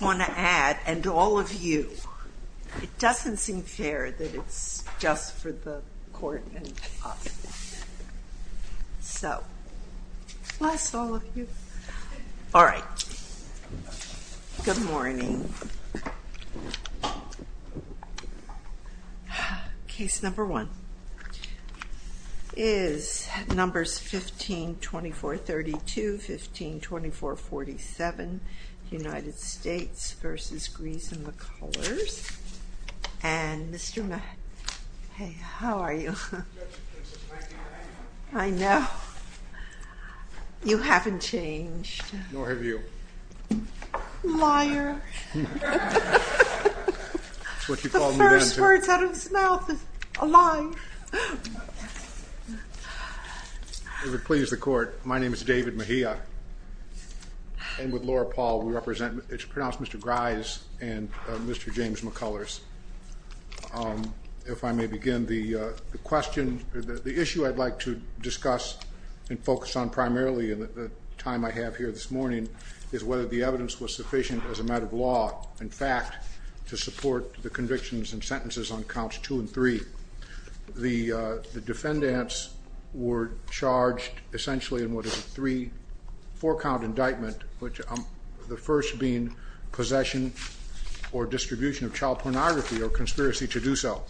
I want to add, and all of you, it doesn't seem fair that it's just for the court and us. So, plus all of you. All right. Good morning. Case number one is numbers 15-2432, 15-2447, United States v. Gries and McCullers. And Mr. Matt, hey, how are you? I know. You haven't changed. Nor have you. Liar. The first words out of his mouth is a lie. If it pleases the court, my name is David Mejia. And with Laura Paul, it's pronounced Mr. Gries and Mr. James McCullers. If I may begin, the issue I'd like to discuss and focus on primarily in the time I have here this morning is whether the evidence was sufficient as a matter of law, in fact, to support the convictions and sentences on counts two and three. The defendants were charged essentially in what is a three, four-count indictment, the first being possession or distribution of child pornography or conspiracy to do so.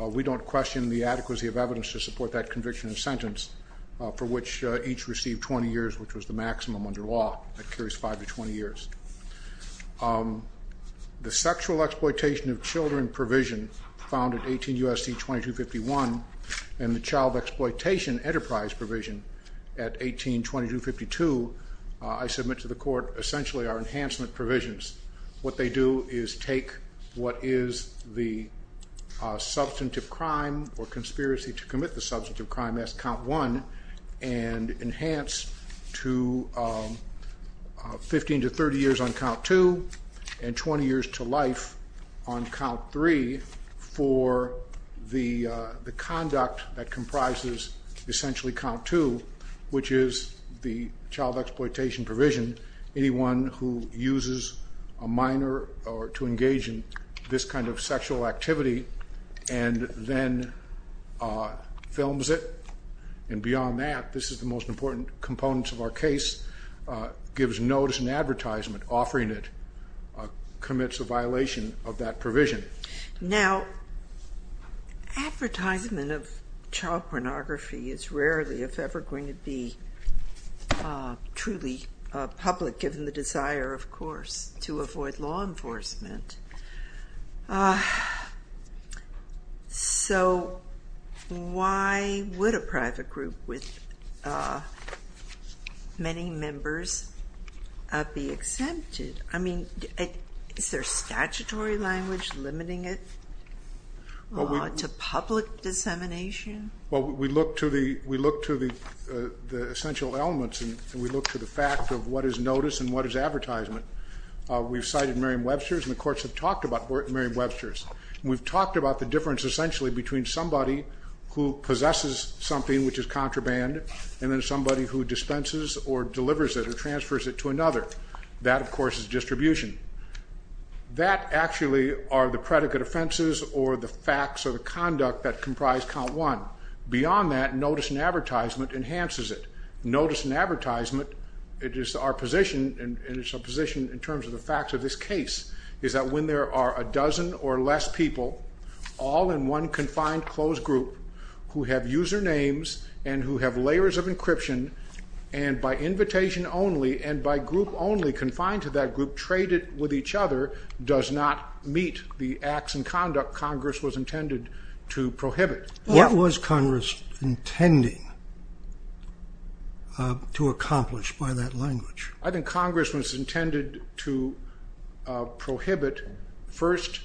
We don't question the adequacy of evidence to support that conviction and sentence for which each received 20 years, which was the maximum under law, that carries five to 20 years. The sexual exploitation of children provision found at 18 U.S.C. 2251 and the child exploitation enterprise provision at 18 U.S.C. 2252, I submit to the court essentially are enhancement provisions. What they do is take what is the substantive crime or conspiracy to commit the substantive crime as count one and enhance to 15 to 30 years on count two and 20 years to life on count three for the conduct that comprises essentially count two, which is the child exploitation provision. Anyone who uses a minor to engage in this kind of sexual activity and then films it, and beyond that, this is the most important component of our case, gives notice and advertisement offering it, commits a violation of that provision. Now, advertisement of child pornography is rarely, if ever, going to be truly public, given the desire, of course, to avoid law enforcement. So why would a private group with many members be exempted? I mean, is there statutory language limiting it to public dissemination? Well, we look to the essential elements, and we look to the fact of what is notice and what is advertisement. We've cited Merriam-Webster's, and the courts have talked about Merriam-Webster's. We've talked about the difference essentially between somebody who possesses something, which is contraband, and then somebody who dispenses or delivers it or transfers it to another. That, of course, is distribution. That actually are the predicate offenses or the facts or the conduct that comprise count one. Beyond that, notice and advertisement enhances it. Notice and advertisement, it is our position, and it's our position in terms of the facts of this case, is that when there are a dozen or less people all in one confined closed group who have usernames and who have layers of encryption, and by invitation only and by group only, confined to that group, traded with each other, does not meet the acts and conduct Congress was intended to prohibit. What was Congress intending to accomplish by that language? I think Congress was intended to prohibit first,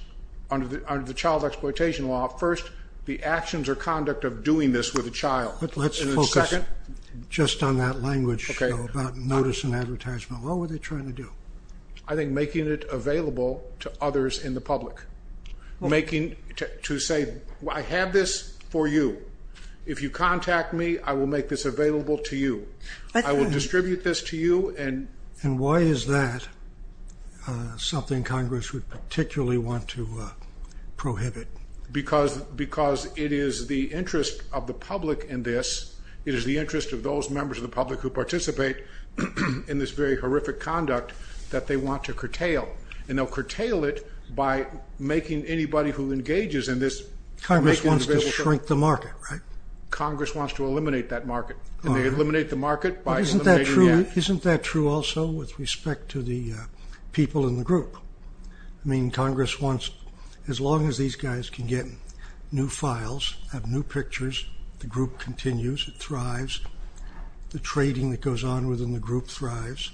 under the child exploitation law, first the actions or conduct of doing this with a child. But let's focus just on that language about notice and advertisement. What were they trying to do? I think making it available to others in the public, making to say, I have this for you. If you contact me, I will make this available to you. I will distribute this to you. And why is that something Congress would particularly want to prohibit? Because it is the interest of the public in this. It is the interest of those members of the public who participate in this very horrific conduct that they want to curtail. And they'll curtail it by making anybody who engages in this. Congress wants to shrink the market, right? Congress wants to eliminate that market. And they eliminate the market by eliminating the act. Isn't that true also with respect to the people in the group? I mean, Congress wants, as long as these guys can get new files, have new pictures, the group continues, it thrives. The trading that goes on within the group thrives.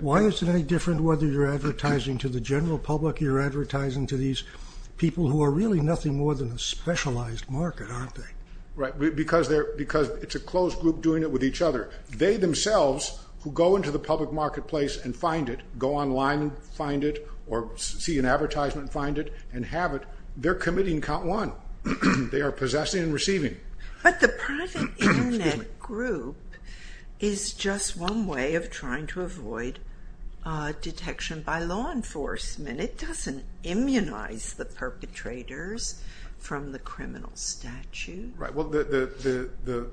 Why is it any different whether you're advertising to the general public or you're advertising to these people who are really nothing more than a specialized market, aren't they? Right, because it's a closed group doing it with each other. They themselves who go into the public marketplace and find it, go online and find it, or see an advertisement and find it and have it, they're committing count one. They are possessing and receiving. But the private Internet group is just one way of trying to avoid detection by law enforcement. It doesn't immunize the perpetrators from the criminal statute. Right, well, the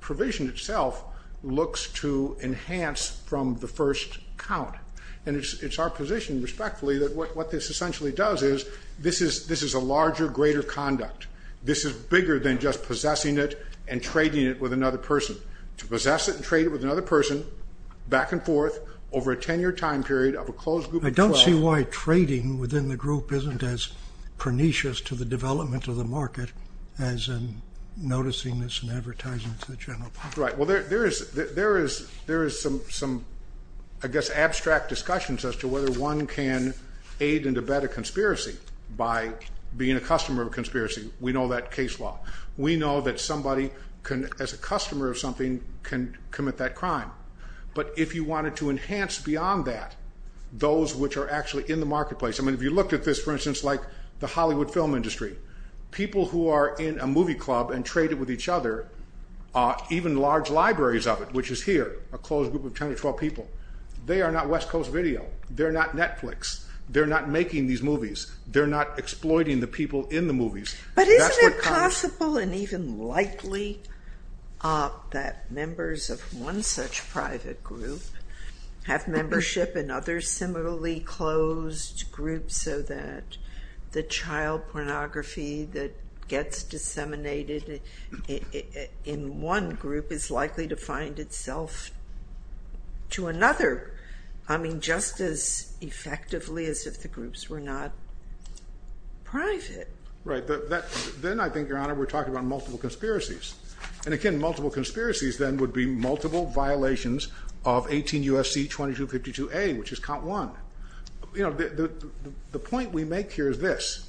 provision itself looks to enhance from the first count. And it's our position, respectfully, that what this essentially does is this is a larger, greater conduct. This is bigger than just possessing it and trading it with another person. To possess it and trade it with another person back and forth over a 10-year time period of a closed group of 12. I don't see why trading within the group isn't as pernicious to the development of the market as in noticing this and advertising to the general public. Right, well, there is some, I guess, abstract discussions as to whether one can aid and abet a conspiracy by being a customer of a conspiracy. We know that case law. We know that somebody, as a customer of something, can commit that crime. But if you wanted to enhance beyond that, those which are actually in the marketplace, I mean, if you looked at this, for instance, like the Hollywood film industry, people who are in a movie club and trade it with each other, even large libraries of it, which is here, a closed group of 10 or 12 people, they are not West Coast Video. They're not Netflix. They're not making these movies. They're not exploiting the people in the movies. But isn't it possible and even likely that members of one such private group have membership in other similarly closed groups so that the child pornography that gets disseminated in one group is likely to find itself to another, I mean, just as effectively as if the groups were not private? Right. Then I think, Your Honor, we're talking about multiple conspiracies. And again, multiple conspiracies then would be multiple violations of 18 U.S.C. 2252A, which is count one. You know, the point we make here is this.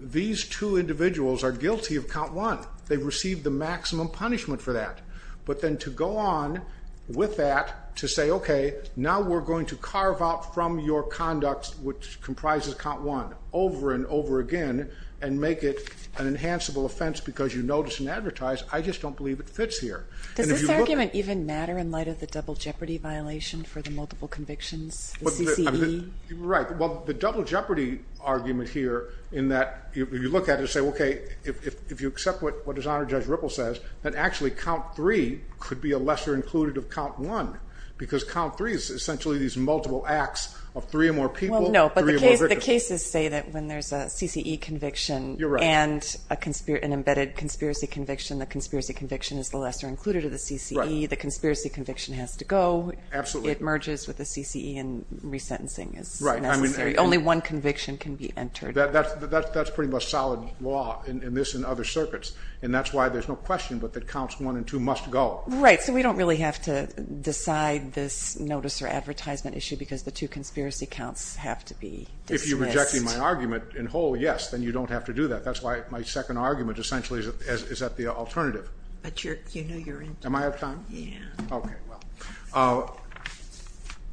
These two individuals are guilty of count one. They've received the maximum punishment for that. But then to go on with that to say, okay, now we're going to carve out from your conduct, which comprises count one, over and over again and make it an enhanceable offense because you notice and advertise, I just don't believe it fits here. Does this argument even matter in light of the double jeopardy violation for the multiple convictions, the CCE? Right. Well, the double jeopardy argument here in that you look at it and say, okay, if you accept what His Honor Judge Ripple says, then actually count three could be a lesser included of count one because count three is essentially these multiple acts of three or more people, three or more victims. Well, no, but the cases say that when there's a CCE conviction and an embedded conspiracy conviction, the conspiracy conviction is the lesser included of the CCE. The conspiracy conviction has to go. Absolutely. It merges with the CCE and resentencing is necessary. Only one conviction can be entered. That's pretty much solid law in this and other circuits. And that's why there's no question but that counts one and two must go. Right, so we don't really have to decide this notice or advertisement issue because the two conspiracy counts have to be dismissed. If you're rejecting my argument in whole, yes, then you don't have to do that. That's why my second argument essentially is that the alternative. But you know you're in trouble. Am I out of time? Yeah. Okay, well.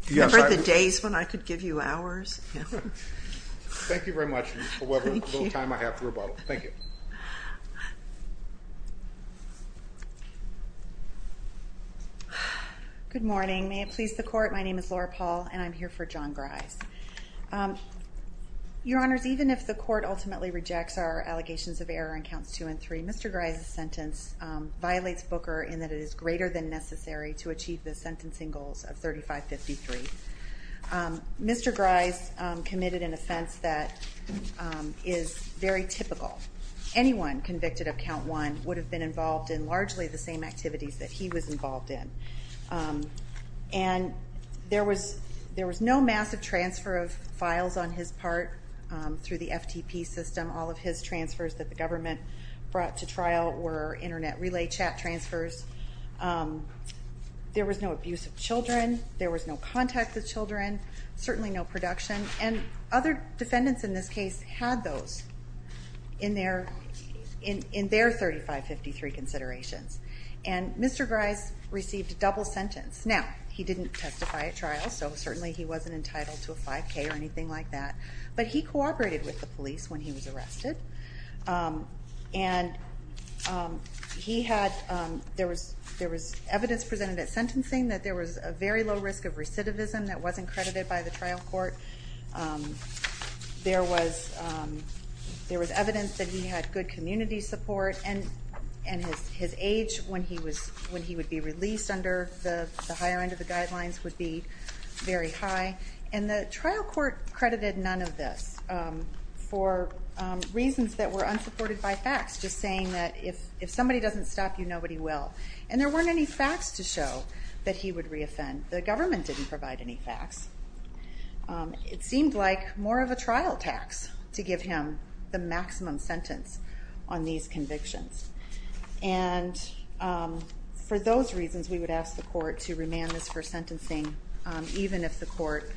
Remember the days when I could give you hours? Thank you very much for whatever little time I have to rebuttal. Thank you. Good morning. May it please the Court, my name is Laura Paul and I'm here for John Grise. Your Honors, even if the Court ultimately rejects our allegations of error in counts two and three, Mr. Grise's sentence violates Booker in that it is greater than necessary to achieve the sentencing goals of 3553. Mr. Grise committed an offense that is very typical. Anyone convicted of count one would have been involved in largely the same activities that he was involved in. And there was no massive transfer of files on his part through the FTP system. All of his transfers that the government brought to trial were Internet relay chat transfers. There was no abuse of children. There was no contact with children. Certainly no production. And other defendants in this case had those in their 3553 considerations. And Mr. Grise received a double sentence. Now, he didn't testify at trial, so certainly he wasn't entitled to a 5K or anything like that. But he cooperated with the police when he was arrested. And there was evidence presented at sentencing that there was a very low risk of recidivism that wasn't credited by the trial court. There was evidence that he had good community support, and his age when he would be released under the higher end of the guidelines would be very high. And the trial court credited none of this for reasons that were unsupported by facts, just saying that if somebody doesn't stop you, nobody will. And there weren't any facts to show that he would reoffend. The government didn't provide any facts. It seemed like more of a trial tax to give him the maximum sentence on these convictions. And for those reasons, we would ask the court to remand this for sentencing even if the court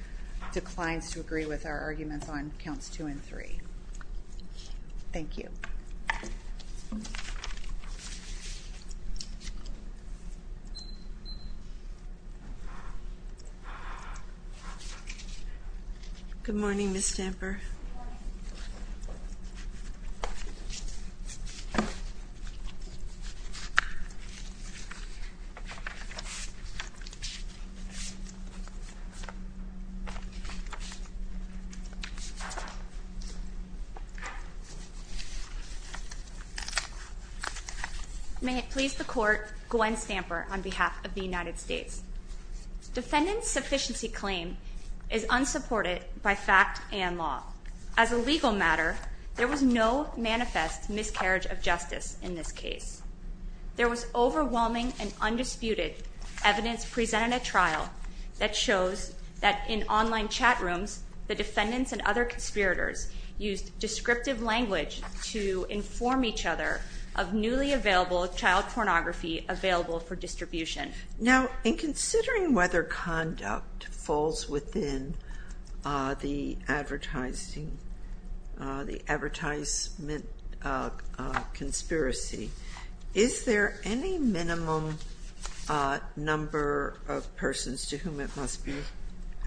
declines to agree with our arguments on counts 2 and 3. Thank you. Thank you. Good morning, Ms. Stamper. Good morning. May it please the court, Gwen Stamper, on behalf of the United States. Defendant's sufficiency claim is unsupported by fact and law. As a legal matter, there was no manifest miscarriage of justice in this case. There was overwhelming and undisputed evidence presented at trial that shows that in online chat rooms, the defendants and other conspirators used descriptive language to inform each other of newly available child pornography available for distribution. Now, in considering whether conduct falls within the advertising conspiracy, is there any minimum number of persons to whom it must be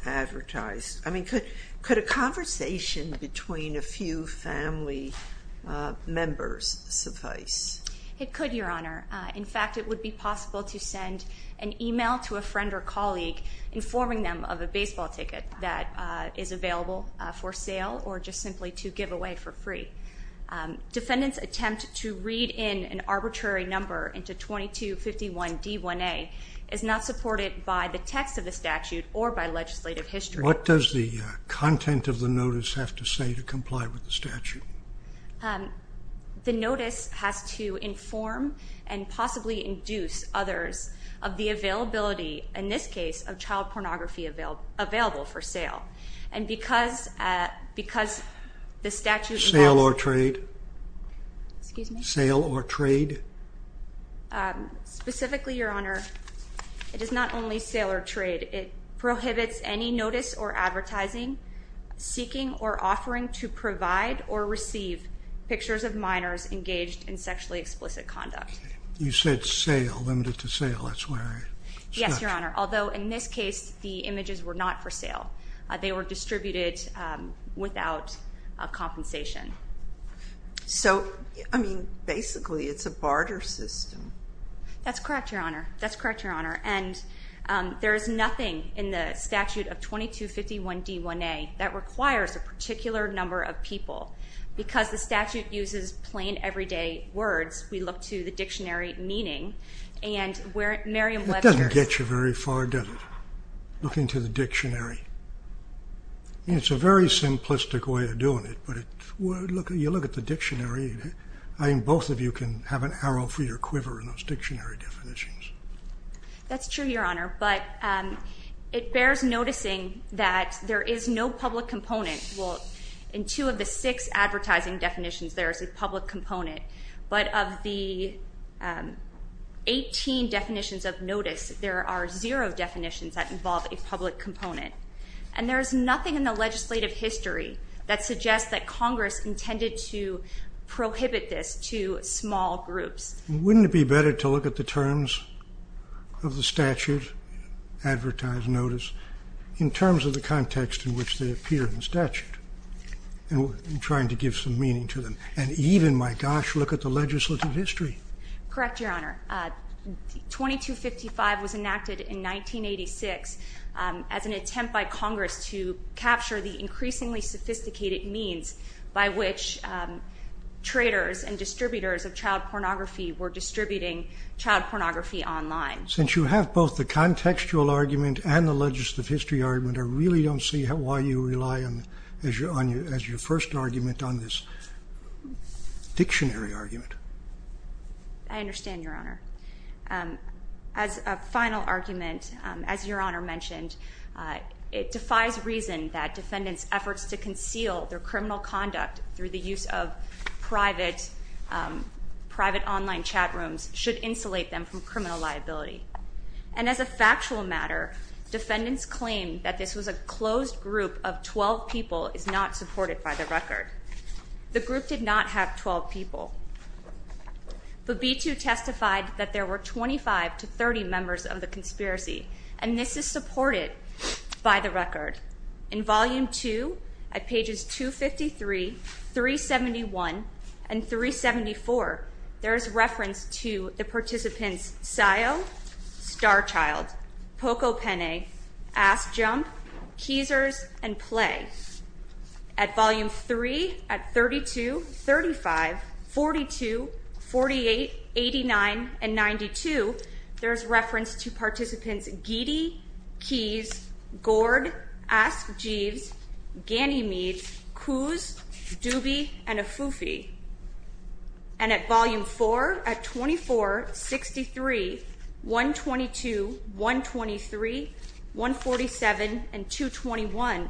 advertised? I mean, could a conversation between a few family members suffice? It could, Your Honor. In fact, it would be possible to send an email to a friend or colleague informing them of a baseball ticket that is available for sale or just simply to give away for free. Defendant's attempt to read in an arbitrary number into 2251 D1A is not supported by the text of the statute or by legislative history. What does the content of the notice have to say to comply with the statute? The notice has to inform and possibly induce others of the availability, in this case, of child pornography available for sale. And because the statute involves... Sale or trade? Excuse me? Sale or trade? Specifically, Your Honor, it is not only sale or trade. It prohibits any notice or advertising, seeking or offering to provide or receive pictures of minors engaged in sexually explicit conduct. You said sale, limited to sale. That's where I stopped. Yes, Your Honor, although in this case the images were not for sale. They were distributed without compensation. So, I mean, basically it's a barter system. That's correct, Your Honor. That's correct, Your Honor. And there is nothing in the statute of 2251 D1A that requires a particular number of people. Because the statute uses plain, everyday words, we look to the dictionary meaning. It doesn't get you very far, does it, looking to the dictionary? I mean, it's a very simplistic way of doing it, but you look at the dictionary, I think both of you can have an arrow for your quiver in those dictionary definitions. That's true, Your Honor, but it bears noticing that there is no public component. Well, in two of the six advertising definitions, there is a public component. But of the 18 definitions of notice, there are zero definitions that involve a public component. And there is nothing in the legislative history that suggests that Congress intended to prohibit this to small groups. Wouldn't it be better to look at the terms of the statute, advertised notice, in terms of the context in which they appear in the statute in trying to give some meaning to them? And even, my gosh, look at the legislative history. Correct, Your Honor. 2255 was enacted in 1986 as an attempt by Congress to capture the increasingly sophisticated means by which traders and distributors of child pornography were distributing child pornography online. Since you have both the contextual argument and the legislative history argument, I really don't see why you rely, as your first argument, on this dictionary argument. I understand, Your Honor. As a final argument, as Your Honor mentioned, it defies reason that defendants' efforts to conceal their criminal conduct through the use of private online chat rooms should insulate them from criminal liability. And as a factual matter, defendants claim that this was a closed group of 12 people is not supported by the record. The group did not have 12 people. But B2 testified that there were 25 to 30 members of the conspiracy, and this is supported by the record. In Volume 2, at pages 253, 371, and 374, there is reference to the participants Sayo, Starchild, Pocopene, Assjump, Keezers, and Play. At Volume 3, at 32, 35, 42, 48, 89, and 92, there is reference to participants Geedy, Keys, Gord, Askjeeves, Ganymede, Coos, Doobie, and Afufi. And at Volume 4, at 24, 63, 122, 123, 147, and 221,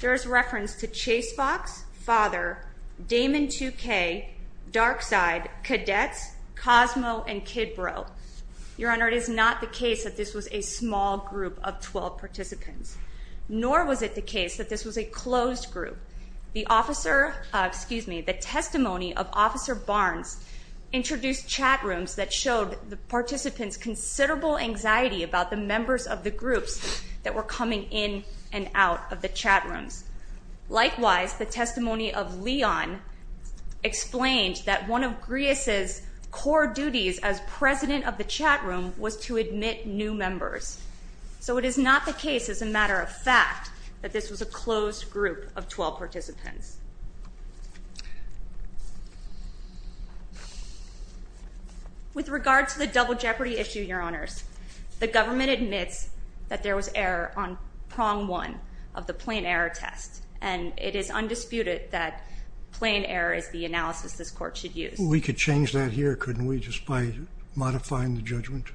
there is reference to Chase Fox, Father, Damon 2K, Darkside, Cadets, Cosmo, and Kidbro. Your Honor, it is not the case that this was a small group of 12 participants. Nor was it the case that this was a closed group. The testimony of Officer Barnes introduced chat rooms that showed the participants considerable anxiety about the members of the groups that were coming in and out of the chat rooms. Likewise, the testimony of Leon explained that one of GRIAS's core duties as president of the chat room was to admit new members. So it is not the case, as a matter of fact, that this was a closed group of 12 participants. With regard to the Double Jeopardy issue, Your Honors, the government admits that there was error on prong one of the plain error test. And it is undisputed that plain error is the analysis this court should use. We could change that here, couldn't we, just by modifying the judgment?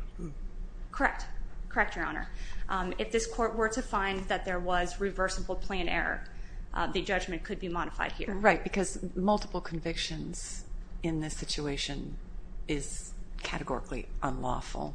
Correct. Correct, Your Honor. If this court were to find that there was reversible plain error, the judgment could be modified here. Right, because multiple convictions in this situation is categorically unlawful.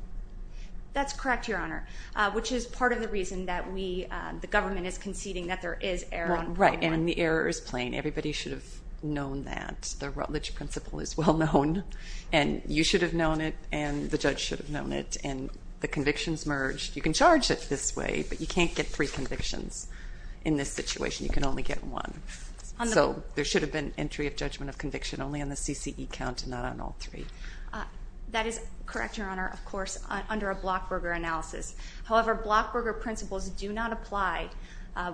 That's correct, Your Honor, which is part of the reason that we, the government is conceding that there is error on prong one. Right, and the error is plain. Everybody should have known that. The Rutledge Principle is well known, and you should have known it, and the judge should have known it, and the convictions merged. You can charge it this way, but you can't get three convictions in this situation. You can only get one. So there should have been entry of judgment of conviction only on the CCE count and not on all three. That is correct, Your Honor, of course, under a Blockberger analysis. However, Blockberger principles do not apply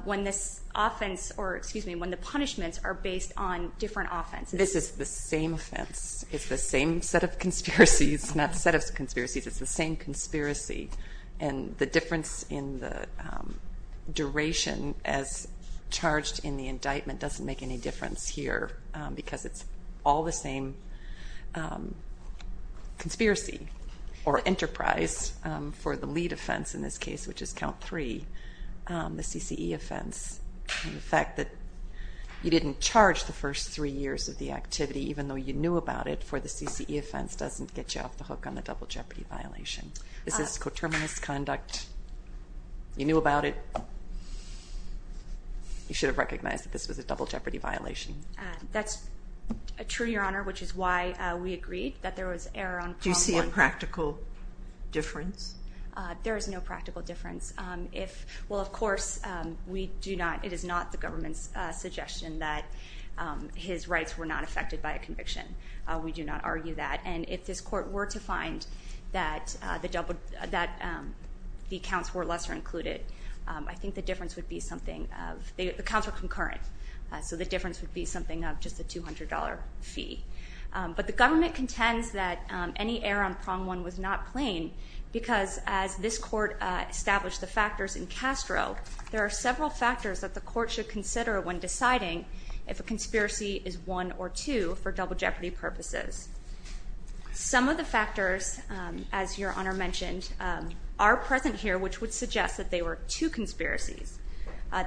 when this offense, or excuse me, when the punishments are based on different offenses. This is the same offense. It's the same set of conspiracies, not set of conspiracies. It's the same conspiracy, and the difference in the duration as charged in the indictment doesn't make any difference here because it's all the same conspiracy or enterprise for the lead offense in this case, which is count three, the CCE offense. The fact that you didn't charge the first three years of the activity, even though you knew about it for the CCE offense, doesn't get you off the hook on the double jeopardy violation. This is coterminous conduct. You knew about it. You should have recognized that this was a double jeopardy violation. That's true, Your Honor, which is why we agreed that there was error on prong one. Do you see a practical difference? There is no practical difference. Well, of course, we do not. It is not the government's suggestion that his rights were not affected by a conviction. We do not argue that. And if this court were to find that the counts were lesser included, I think the difference would be something of, the counts were concurrent, so the difference would be something of just a $200 fee. But the government contends that any error on prong one was not plain because as this court established the factors in Castro, there are several factors that the court should consider when deciding if a conspiracy is one or two for double jeopardy purposes. Some of the factors, as Your Honor mentioned, are present here, which would suggest that they were two conspiracies.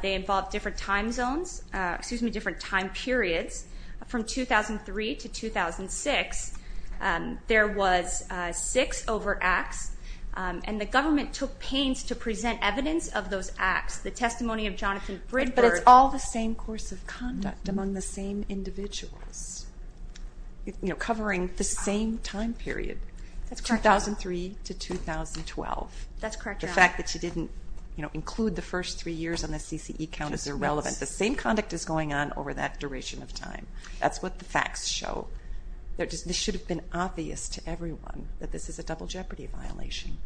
They involved different time zones, excuse me, different time periods. From 2003 to 2006, there was six over acts, and the government took pains to present evidence of those acts. The testimony of Jonathan Bridberg. But it's all the same course of conduct among the same individuals, covering the same time period, 2003 to 2012. That's correct, Your Honor. The fact that you didn't include the first three years on the CCE count is irrelevant. The same conduct is going on over that duration of time. That's what the facts show. This should have been obvious to everyone that this is a double jeopardy violation.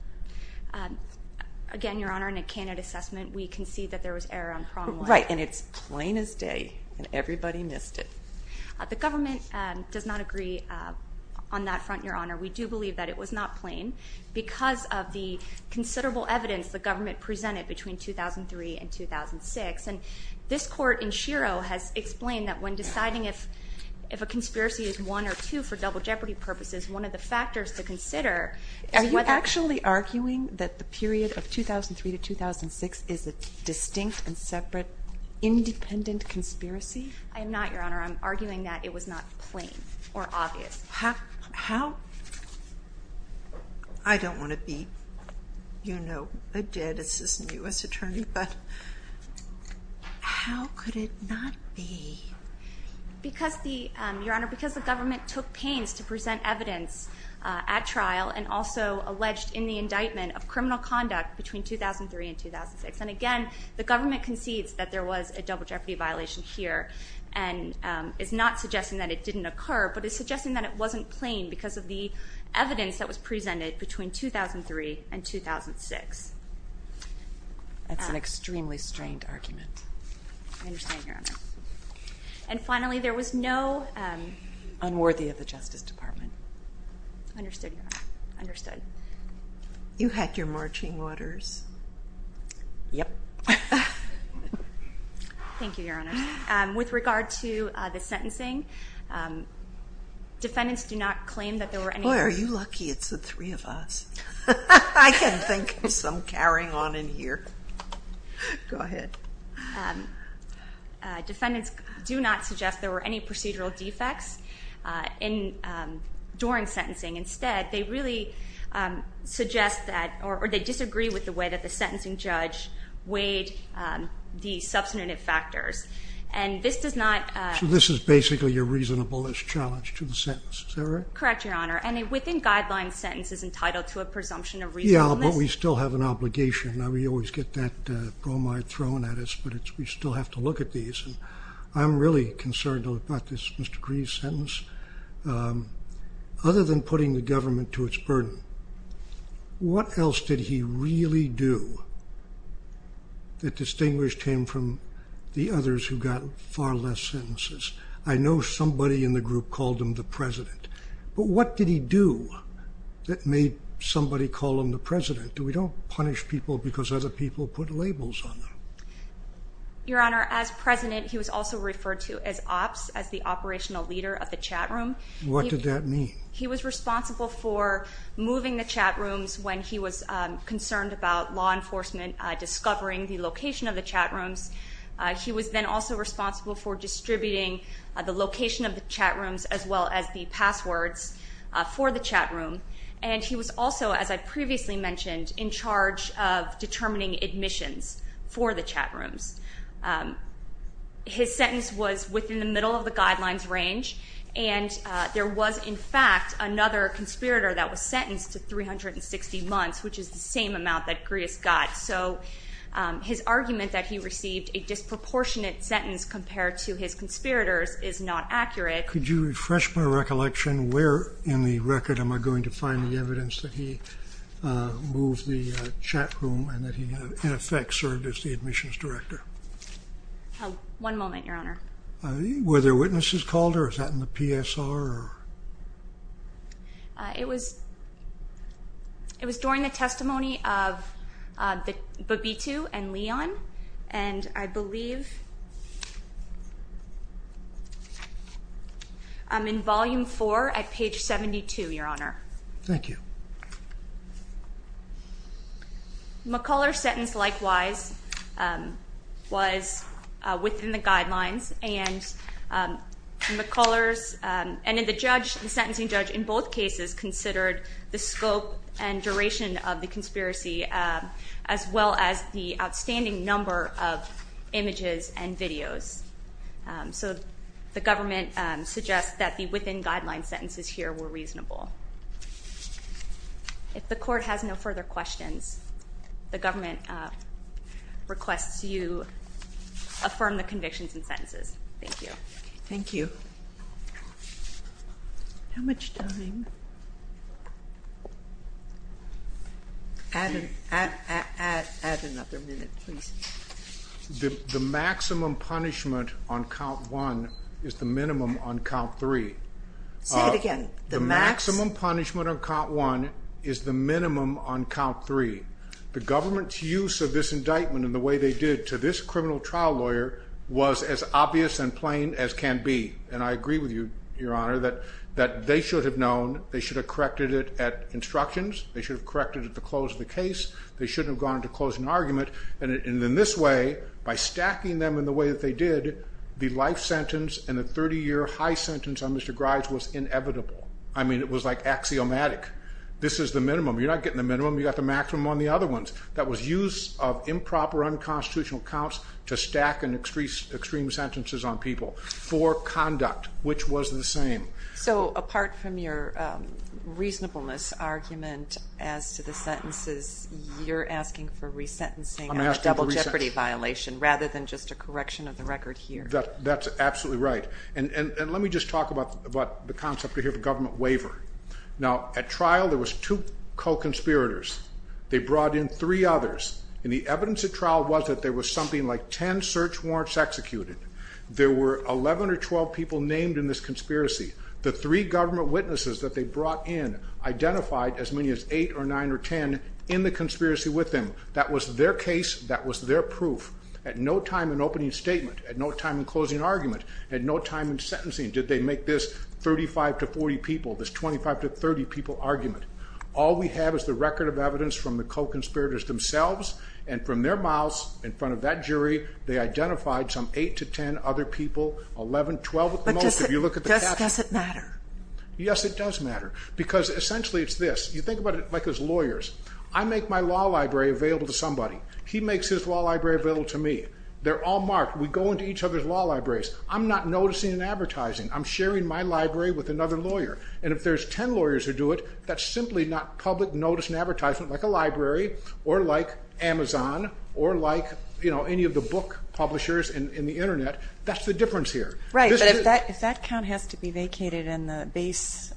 Again, Your Honor, in a candidate assessment, we concede that there was error on prong one. Right, and it's plain as day, and everybody missed it. The government does not agree on that front, Your Honor. We do believe that it was not plain because of the considerable evidence the government presented between 2003 and 2006. And this court in Shiro has explained that when deciding if a conspiracy is one or two for double jeopardy purposes, one of the factors to consider is whether. Are you actually arguing that the period of 2003 to 2006 is a distinct and separate independent conspiracy? I am not, Your Honor. I'm arguing that it was not plain or obvious. How? I don't want to be, you know, a dead assistant U.S. attorney, but how could it not be? Because the, Your Honor, because the government took pains to present evidence at trial and also alleged in the indictment of criminal conduct between 2003 and 2006. And again, the government concedes that there was a double jeopardy violation here and is not suggesting that it didn't occur, but is suggesting that it wasn't plain because of the evidence that was presented between 2003 and 2006. That's an extremely strained argument. I understand, Your Honor. And finally, there was no... Unworthy of the Justice Department. Understood, Your Honor. Understood. You had your marching orders. Yep. Thank you, Your Honor. With regard to the sentencing, defendants do not claim that there were any... Boy, are you lucky it's the three of us. I can think of some carrying on in here. Go ahead. Defendants do not suggest there were any procedural defects during sentencing. Instead, they really suggest that or they disagree with the way that the sentencing judge weighed the substantive factors. And this does not... So this is basically a reasonableness challenge to the sentence. Is that right? Correct, Your Honor. And a within-guidelines sentence is entitled to a presumption of reasonableness. Yeah, but we still have an obligation. We always get that bromide thrown at us, but we still have to look at these. I'm really concerned about this Mr. Grieve's sentence. Other than putting the government to its burden, what else did he really do that distinguished him from the others who got far less sentences? I know somebody in the group called him the president, but what did he do that made somebody call him the president? We don't punish people because other people put labels on them. Your Honor, as president, he was also referred to as OPS, as the operational leader of the chatroom. What did that mean? He was responsible for moving the chatrooms when he was concerned about law enforcement discovering the location of the chatrooms. He was then also responsible for distributing the location of the chatrooms as well as the passwords for the chatroom. And he was also, as I previously mentioned, in charge of determining admissions for the chatrooms. His sentence was within the middle of the guidelines range, and there was, in fact, another conspirator that was sentenced to 360 months, which is the same amount that Grieve's got. So his argument that he received a disproportionate sentence compared to his conspirators is not accurate. Could you refresh my recollection? Where in the record am I going to find the evidence that he moved the chatroom and that he, in effect, served as the admissions director? One moment, Your Honor. Were there witnesses called, or was that in the PSR? It was during the testimony of Babitu and Leon, and I believe I'm in Volume 4 at page 72, Your Honor. Thank you. McCuller's sentence, likewise, was within the guidelines, and McCuller's and the sentencing judge in both cases considered the scope and duration of the conspiracy as well as the outstanding number of images and videos. So the government suggests that the within-guidelines sentences here were reasonable. If the Court has no further questions, the government requests you affirm the convictions and sentences. Thank you. Thank you. How much time? Add another minute, please. The maximum punishment on count one is the minimum on count three. Say it again. The maximum punishment on count one is the minimum on count three. The government's use of this indictment and the way they did to this criminal trial lawyer was as obvious and plain as can be. And I agree with you, Your Honor, that they should have known. They should have corrected it at instructions. They should have corrected it at the close of the case. They shouldn't have gone to closing argument. And in this way, by stacking them in the way that they did, the life sentence and the 30-year high sentence on Mr. Grise was inevitable. I mean, it was like axiomatic. This is the minimum. You're not getting the minimum. You got the maximum on the other ones. That was use of improper unconstitutional counts to stack in extreme sentences on people for conduct, which was the same. So apart from your reasonableness argument as to the sentences, you're asking for resentencing and a double jeopardy violation rather than just a correction of the record here. That's absolutely right. And let me just talk about the concept here of a government waiver. Now, at trial, there was two co-conspirators. They brought in three others. And the evidence at trial was that there was something like 10 search warrants executed. There were 11 or 12 people named in this conspiracy. The three government witnesses that they brought in identified as many as 8 or 9 or 10 in the conspiracy with them. That was their case. That was their proof. At no time in opening statement, at no time in closing argument, at no time in sentencing did they make this 35 to 40 people, this 25 to 30 people argument. All we have is the record of evidence from the co-conspirators themselves. And from their mouths in front of that jury, they identified some 8 to 10 other people, 11, 12 at the most. But does it matter? Yes, it does matter. Because essentially it's this. You think about it like as lawyers. I make my law library available to somebody. He makes his law library available to me. They're all marked. We go into each other's law libraries. I'm not noticing in advertising. I'm sharing my library with another lawyer. And if there's 10 lawyers who do it, that's simply not public notice and advertisement like a library or like Amazon or like, you know, any of the book publishers in the Internet. That's the difference here. Right. But if that count has to be vacated and the base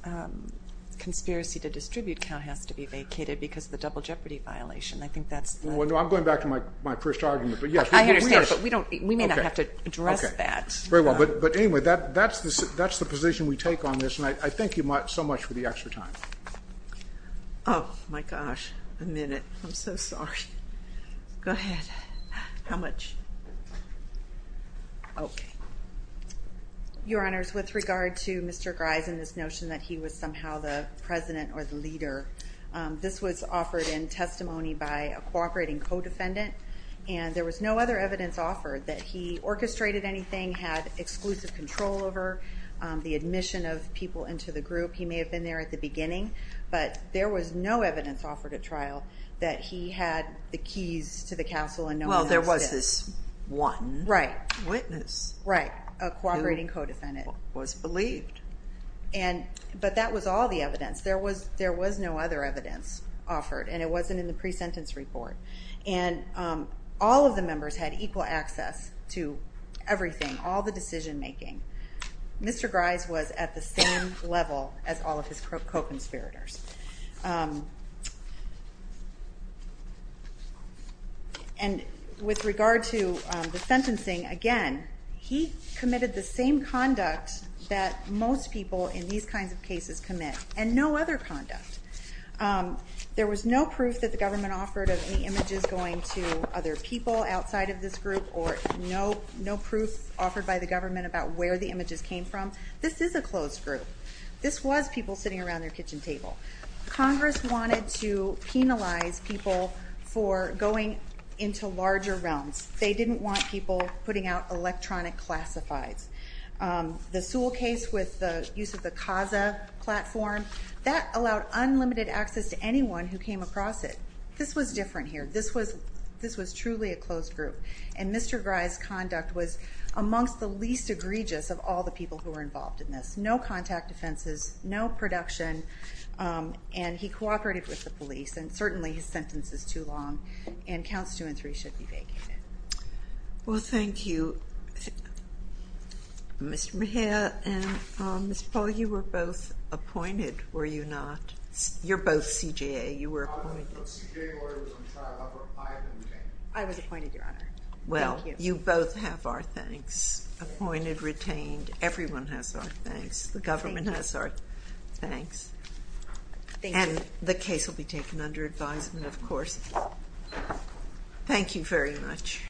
conspiracy to distribute count has to be vacated because of the double jeopardy violation, I think that's the. Well, no, I'm going back to my first argument. I understand. But we may not have to address that. Very well. But anyway, that's the position we take on this. And I thank you so much for the extra time. Oh, my gosh. A minute. I'm so sorry. Go ahead. How much? OK. Your Honors, with regard to Mr. Grise and this notion that he was somehow the president or the leader, this was offered in testimony by a cooperating co-defendant, and there was no other evidence offered that he orchestrated anything, had exclusive control over the admission of people into the group. He may have been there at the beginning, but there was no evidence offered at trial that he had the keys to the castle and no one else did. Well, there was this one witness. Right, a cooperating co-defendant. Who was believed. But that was all the evidence. There was no other evidence offered, and it wasn't in the pre-sentence report. And all of the members had equal access to everything, all the decision making. Mr. Grise was at the same level as all of his co-conspirators. And with regard to the sentencing, again, he committed the same conduct that most people in these kinds of cases commit. And no other conduct. There was no proof that the government offered of any images going to other people outside of this group, or no proof offered by the government about where the images came from. This is a closed group. This was people sitting around their kitchen table. Congress wanted to penalize people for going into larger realms. They didn't want people putting out electronic classifieds. The Sewell case with the use of the Kaza platform, that allowed unlimited access to anyone who came across it. This was different here. This was truly a closed group. And Mr. Grise's conduct was amongst the least egregious of all the people who were involved in this. No contact offenses, no production, and he cooperated with the police. And certainly his sentence is too long, and counts two and three should be vacated. Well, thank you. Mr. Mejia and Mr. Paul, you were both appointed, were you not? You're both CJA. You were appointed. I was appointed, Your Honor. Well, you both have our thanks. Appointed, retained. Everyone has our thanks. The government has our thanks. And the case will be taken under advisement, of course. Thank you very much.